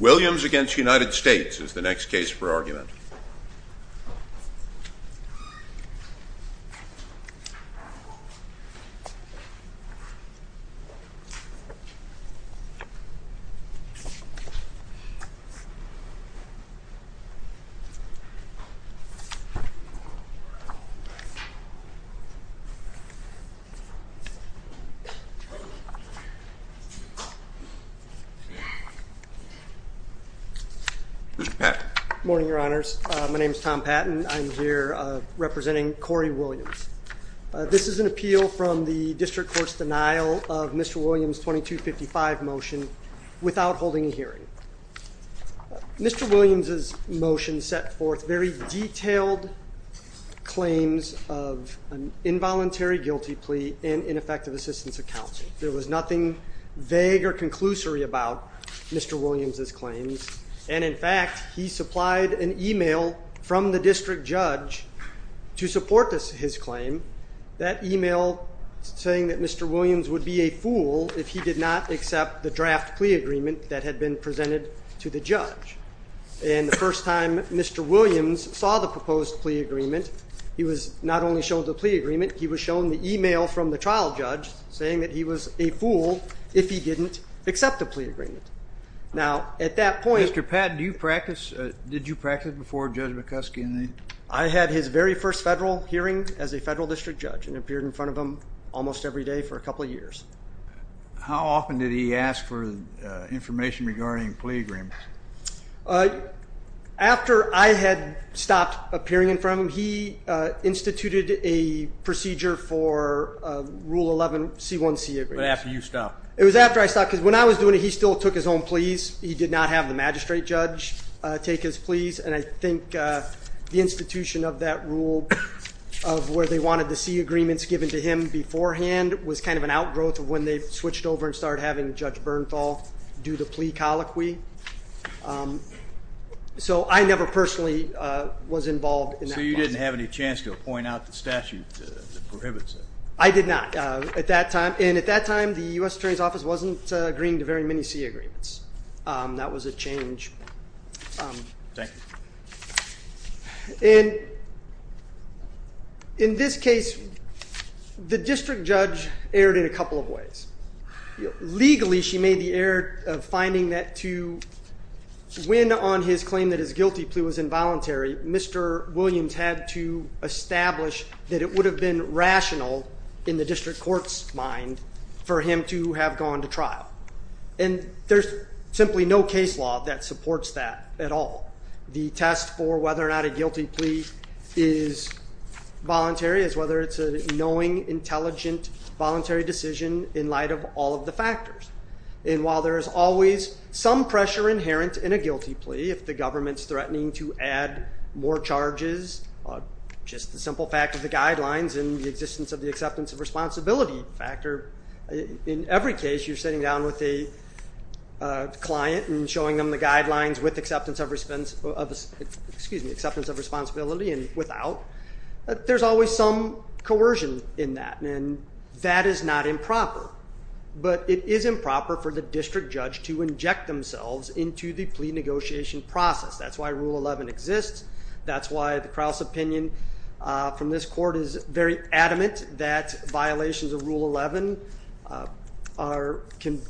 Williams v. United States is the next case for argument. Good morning, your honors. My name is Tom Patton. I'm here representing Corey Williams. This is an appeal from the district court's denial of Mr. Williams 2255 motion without holding a hearing. Mr. Williams's motion set forth very detailed claims of an involuntary guilty plea and ineffective assistance of counsel. There was nothing vague or conclusory about Mr. Williams's claims. And in fact, he supplied an email from the district judge to support his claim, that email saying that Mr. Williams would be a fool if he did not accept the draft plea agreement that had been presented to the judge. And the first time Mr. Williams saw the proposed plea agreement, he was not only shown the plea agreement, he was shown the email from the trial judge saying that he was a fool if he didn't accept the plea agreement. Mr. Patton, did you practice before Judge McCuskey? I had his very first federal hearing as a federal district judge and appeared in front of him almost every day for a couple of years. How often did he ask for information regarding plea agreements? After I had stopped appearing in front of him, he instituted a procedure for rule 11 C1C agreements. But after you stopped? It was after I stopped because when I was doing it, he still took his own pleas. He did not have the magistrate judge take his pleas. And I think the institution of that rule of where they wanted to see agreements given to him beforehand was kind of an outgrowth of when they switched over and started having Judge Bernthal do the plea colloquy. So I never personally was involved in that process. So you didn't have any chance to appoint out the statute that prohibits it? I did not at that time. And at that time, the U.S. Attorney's Office wasn't agreeing to very many C agreements. That was a change. Thank you. And in this case, the district judge erred in a couple of ways. Legally, she made the error of finding that to win on his claim that his guilty plea was involuntary, Mr. Williams had to establish that it would have been rational in the district court's mind for him to have gone to trial. And there's simply no case law that supports that at all. The test for whether or not a guilty plea is voluntary is whether it's a knowing, intelligent, voluntary decision in light of all of the factors. And while there is always some pressure inherent in a guilty plea, if the government's threatening to add more charges, just the simple fact of the guidelines and the existence of the acceptance of responsibility factor, in every case you're sitting down with a client and showing them the guidelines with acceptance of responsibility and without, there's always some coercion in that. And that is not improper. But it is improper for the district judge to inject themselves into the plea negotiation process. That's why Rule 11 exists. That's why the Crouse opinion from this court is very adamant that violations of Rule 11 can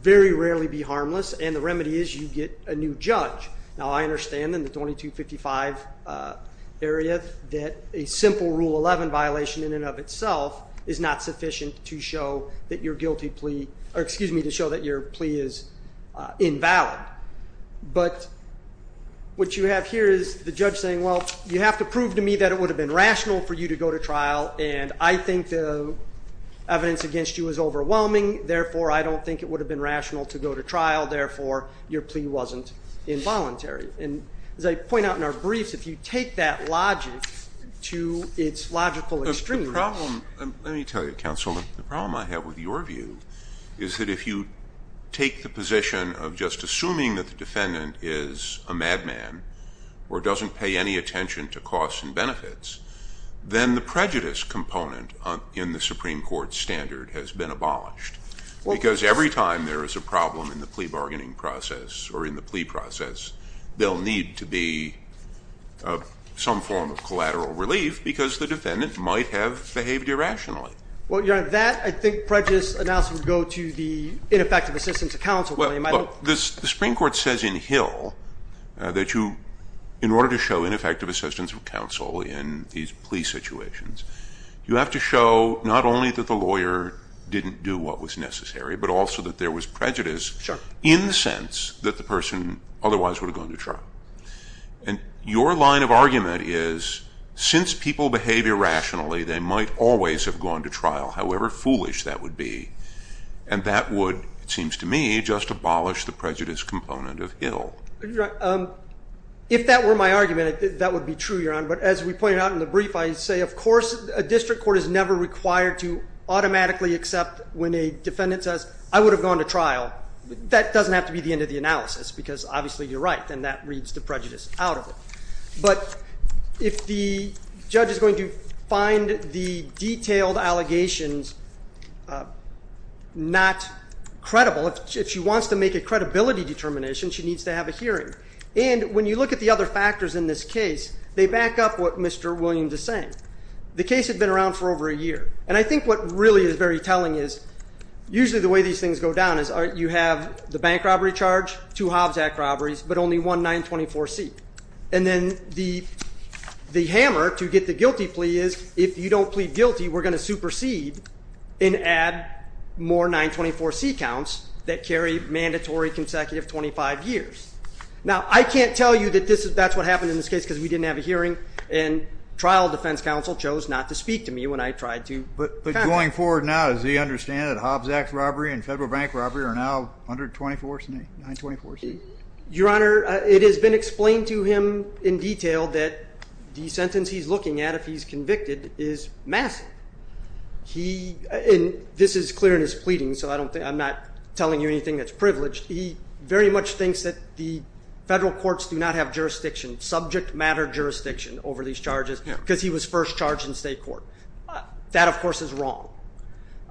very rarely be harmless. And the remedy is you get a new judge. Now, I understand in the 2255 area that a simple Rule 11 violation in and of itself is not sufficient to show that your guilty plea, or excuse me, to show that your plea is invalid. But what you have here is the judge saying, well, you have to prove to me that it would have been rational for you to go to trial. And I think the evidence against you is overwhelming. Therefore, I don't think it would have been rational to go to trial. Therefore, your plea wasn't involuntary. And as I point out in our briefs, if you take that logic to its logical extremes. Let me tell you, counsel, the problem I have with your view is that if you take the position of just assuming that the defendant is a madman or doesn't pay any attention to costs and benefits, then the prejudice component in the Supreme Court standard has been abolished. Because every time there is a problem in the plea bargaining process or in the plea process, there will need to be some form of collateral relief because the defendant might have behaved irrationally. Well, Your Honor, that I think prejudice analysis would go to the ineffective assistance of counsel claim. Well, look, the Supreme Court says in Hill that you, in order to show ineffective assistance of counsel in these plea situations, you have to show not only that the lawyer didn't do what was necessary, but also that there was prejudice. Sure. In the sense that the person otherwise would have gone to trial. And your line of argument is since people behave irrationally, they might always have gone to trial, however foolish that would be. And that would, it seems to me, just abolish the prejudice component of Hill. If that were my argument, that would be true, Your Honor. But as we pointed out in the brief, I say, of course, a district court is never required to automatically accept when a defendant says, I would have gone to trial. That doesn't have to be the end of the analysis because obviously you're right and that reads the prejudice out of it. But if the judge is going to find the detailed allegations not credible, if she wants to make a credibility determination, she needs to have a hearing. And when you look at the other factors in this case, they back up what Mr. Williams is saying. The case had been around for over a year. And I think what really is very telling is usually the way these things go down is you have the bank robbery charge, two Hobbs Act robberies, but only one 924C. And then the hammer to get the guilty plea is if you don't plead guilty, we're going to supersede and add more 924C counts that carry mandatory consecutive 25 years. Now, I can't tell you that that's what happened in this case because we didn't have a hearing. And trial defense counsel chose not to speak to me when I tried to back up. But going forward now, does he understand that Hobbs Act robbery and federal bank robbery are now under 924C? Your Honor, it has been explained to him in detail that the sentence he's looking at if he's convicted is massive. And this is clear in his pleading, so I'm not telling you anything that's privileged. He very much thinks that the federal courts do not have jurisdiction, subject matter jurisdiction, over these charges because he was first charged in state court. That, of course, is wrong.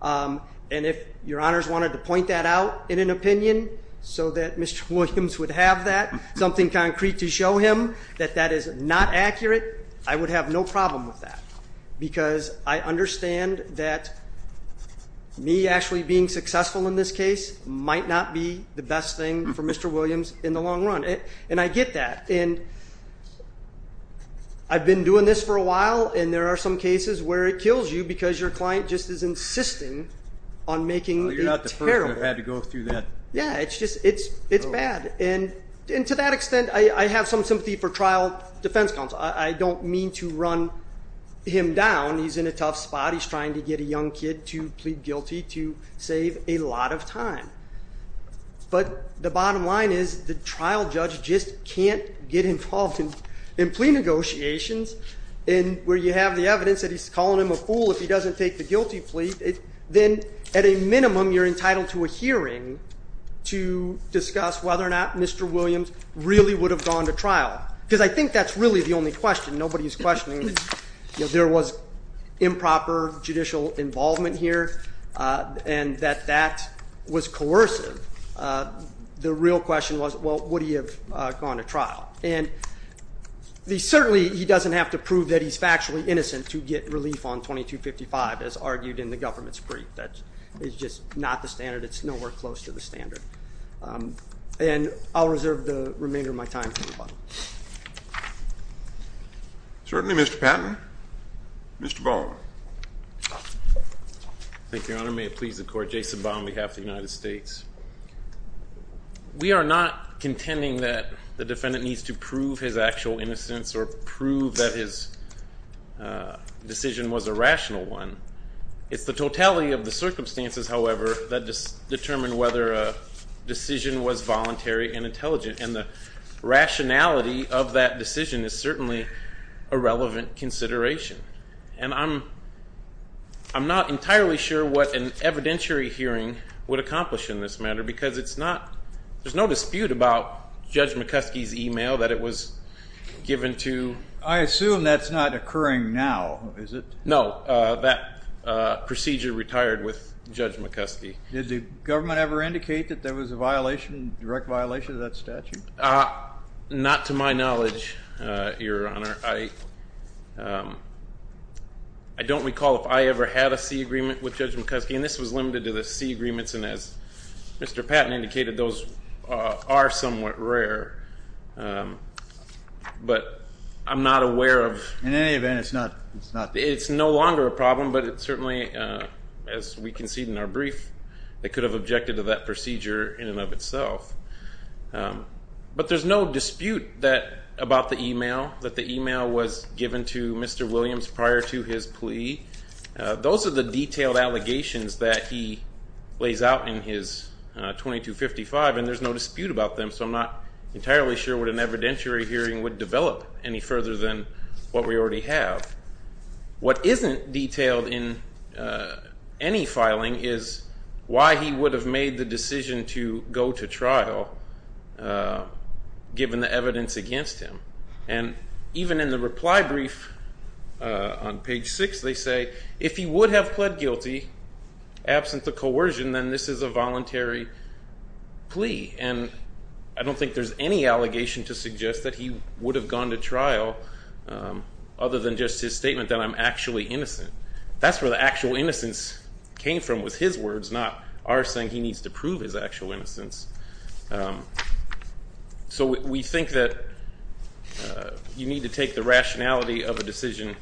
And if Your Honors wanted to point that out in an opinion so that Mr. Williams would have that, something concrete to show him that that is not accurate, I would have no problem with that. Because I understand that me actually being successful in this case might not be the best thing for Mr. Williams in the long run. And I get that. And I've been doing this for a while, and there are some cases where it kills you because your client just is insisting on making it terrible. Well, you're not the person who had to go through that. Yeah, it's just bad. And to that extent, I have some sympathy for trial defense counsel. I don't mean to run him down. He's in a tough spot. He's trying to get a young kid to plead guilty to save a lot of time. But the bottom line is the trial judge just can't get involved in plea negotiations where you have the evidence that he's calling him a fool if he doesn't take the guilty plea. Then at a minimum, you're entitled to a hearing to discuss whether or not Mr. Williams really would have gone to trial. Because I think that's really the only question. Nobody is questioning that there was improper judicial involvement here and that that was coercive. The real question was, well, would he have gone to trial? And certainly, he doesn't have to prove that he's factually innocent to get relief on 2255, as argued in the government's brief. That is just not the standard. It's nowhere close to the standard. And I'll reserve the remainder of my time for rebuttal. Certainly, Mr. Patton. Mr. Baum. Thank you, Your Honor. May it please the Court. Jason Baum on behalf of the United States. We are not contending that the defendant needs to prove his actual innocence or prove that his decision was a rational one. It's the totality of the circumstances, however, that determine whether a decision was voluntary and intelligent. And the rationality of that decision is certainly a relevant consideration. And I'm not entirely sure what an evidentiary hearing would accomplish in this matter because it's not – there's no dispute about Judge McCuskey's email that it was given to – I assume that's not occurring now, is it? No. That procedure retired with Judge McCuskey. Did the government ever indicate that there was a violation, direct violation of that statute? Not to my knowledge, Your Honor. I don't recall if I ever had a C agreement with Judge McCuskey, and this was limited to the C agreements. And as Mr. Patton indicated, those are somewhat rare. But I'm not aware of – In any event, it's not – It's no longer a problem, but it certainly, as we concede in our brief, it could have objected to that procedure in and of itself. But there's no dispute about the email, that the email was given to Mr. Williams prior to his plea. Those are the detailed allegations that he lays out in his 2255, and there's no dispute about them, so I'm not entirely sure what an evidentiary hearing would develop any further than what we already have. What isn't detailed in any filing is why he would have made the decision to go to trial, given the evidence against him. And even in the reply brief on page 6, they say, if he would have pled guilty, absent the coercion, then this is a voluntary plea. And I don't think there's any allegation to suggest that he would have gone to trial, other than just his statement that I'm actually innocent. That's where the actual innocence came from, was his words, not our saying he needs to prove his actual innocence. So we think that you need to take the rationality of a decision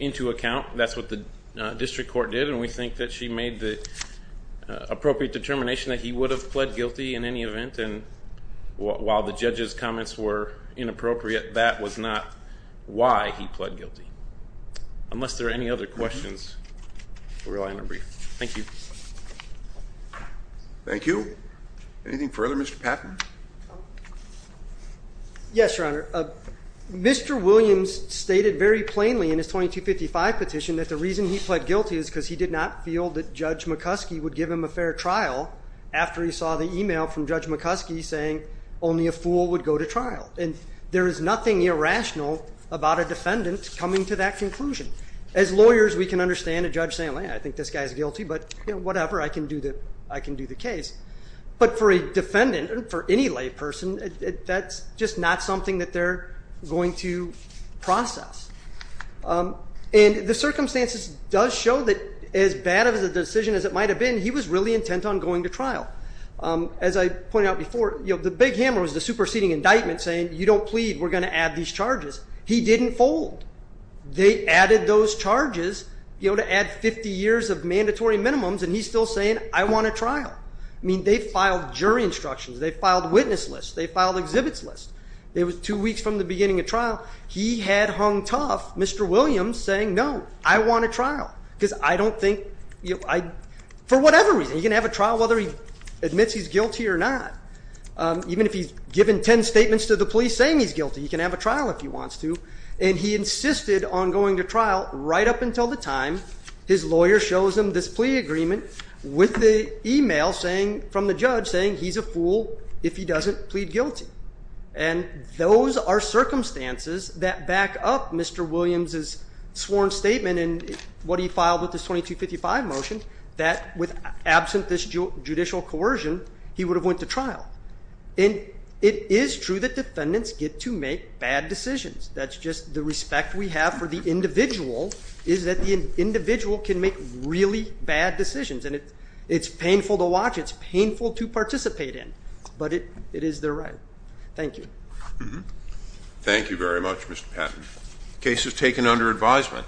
into account. That's what the district court did, and we think that she made the appropriate determination that he would have pled guilty in any event. And while the judge's comments were inappropriate, that was not why he pled guilty. Unless there are any other questions, we'll rely on our brief. Thank you. Thank you. Anything further, Mr. Patton? Yes, Your Honor. Mr. Williams stated very plainly in his 2255 petition that the reason he pled guilty is because he did not feel that Judge McCuskey would give him a fair trial after he saw the email from Judge McCuskey saying only a fool would go to trial. And there is nothing irrational about a defendant coming to that conclusion. As lawyers, we can understand a judge saying, well, yeah, I think this guy's guilty, but whatever, I can do the case. But for a defendant, for any lay person, that's just not something that they're going to process. And the circumstances does show that as bad of a decision as it might have been, he was really intent on going to trial. As I pointed out before, the big hammer was the superseding indictment saying you don't plead, we're going to add these charges. He didn't fold. They added those charges to add 50 years of mandatory minimums, and he's still saying, I want a trial. I mean, they filed jury instructions. They filed witness lists. They filed exhibits lists. It was two weeks from the beginning of trial. He had hung tough, Mr. Williams, saying, no, I want a trial. Because I don't think, for whatever reason, he can have a trial whether he admits he's guilty or not. Even if he's given 10 statements to the police saying he's guilty, he can have a trial if he wants to. And he insisted on going to trial right up until the time his lawyer shows him this plea agreement with the email saying, from the judge, saying he's a fool if he doesn't plead guilty. And those are circumstances that back up Mr. Williams' sworn statement and what he filed with his 2255 motion, that with absent this judicial coercion, he would have went to trial. And it is true that defendants get to make bad decisions. That's just the respect we have for the individual is that the individual can make really bad decisions. And it's painful to watch. It's painful to participate in. But it is their right. Thank you. Thank you very much, Mr. Patton. Case is taken under advisement.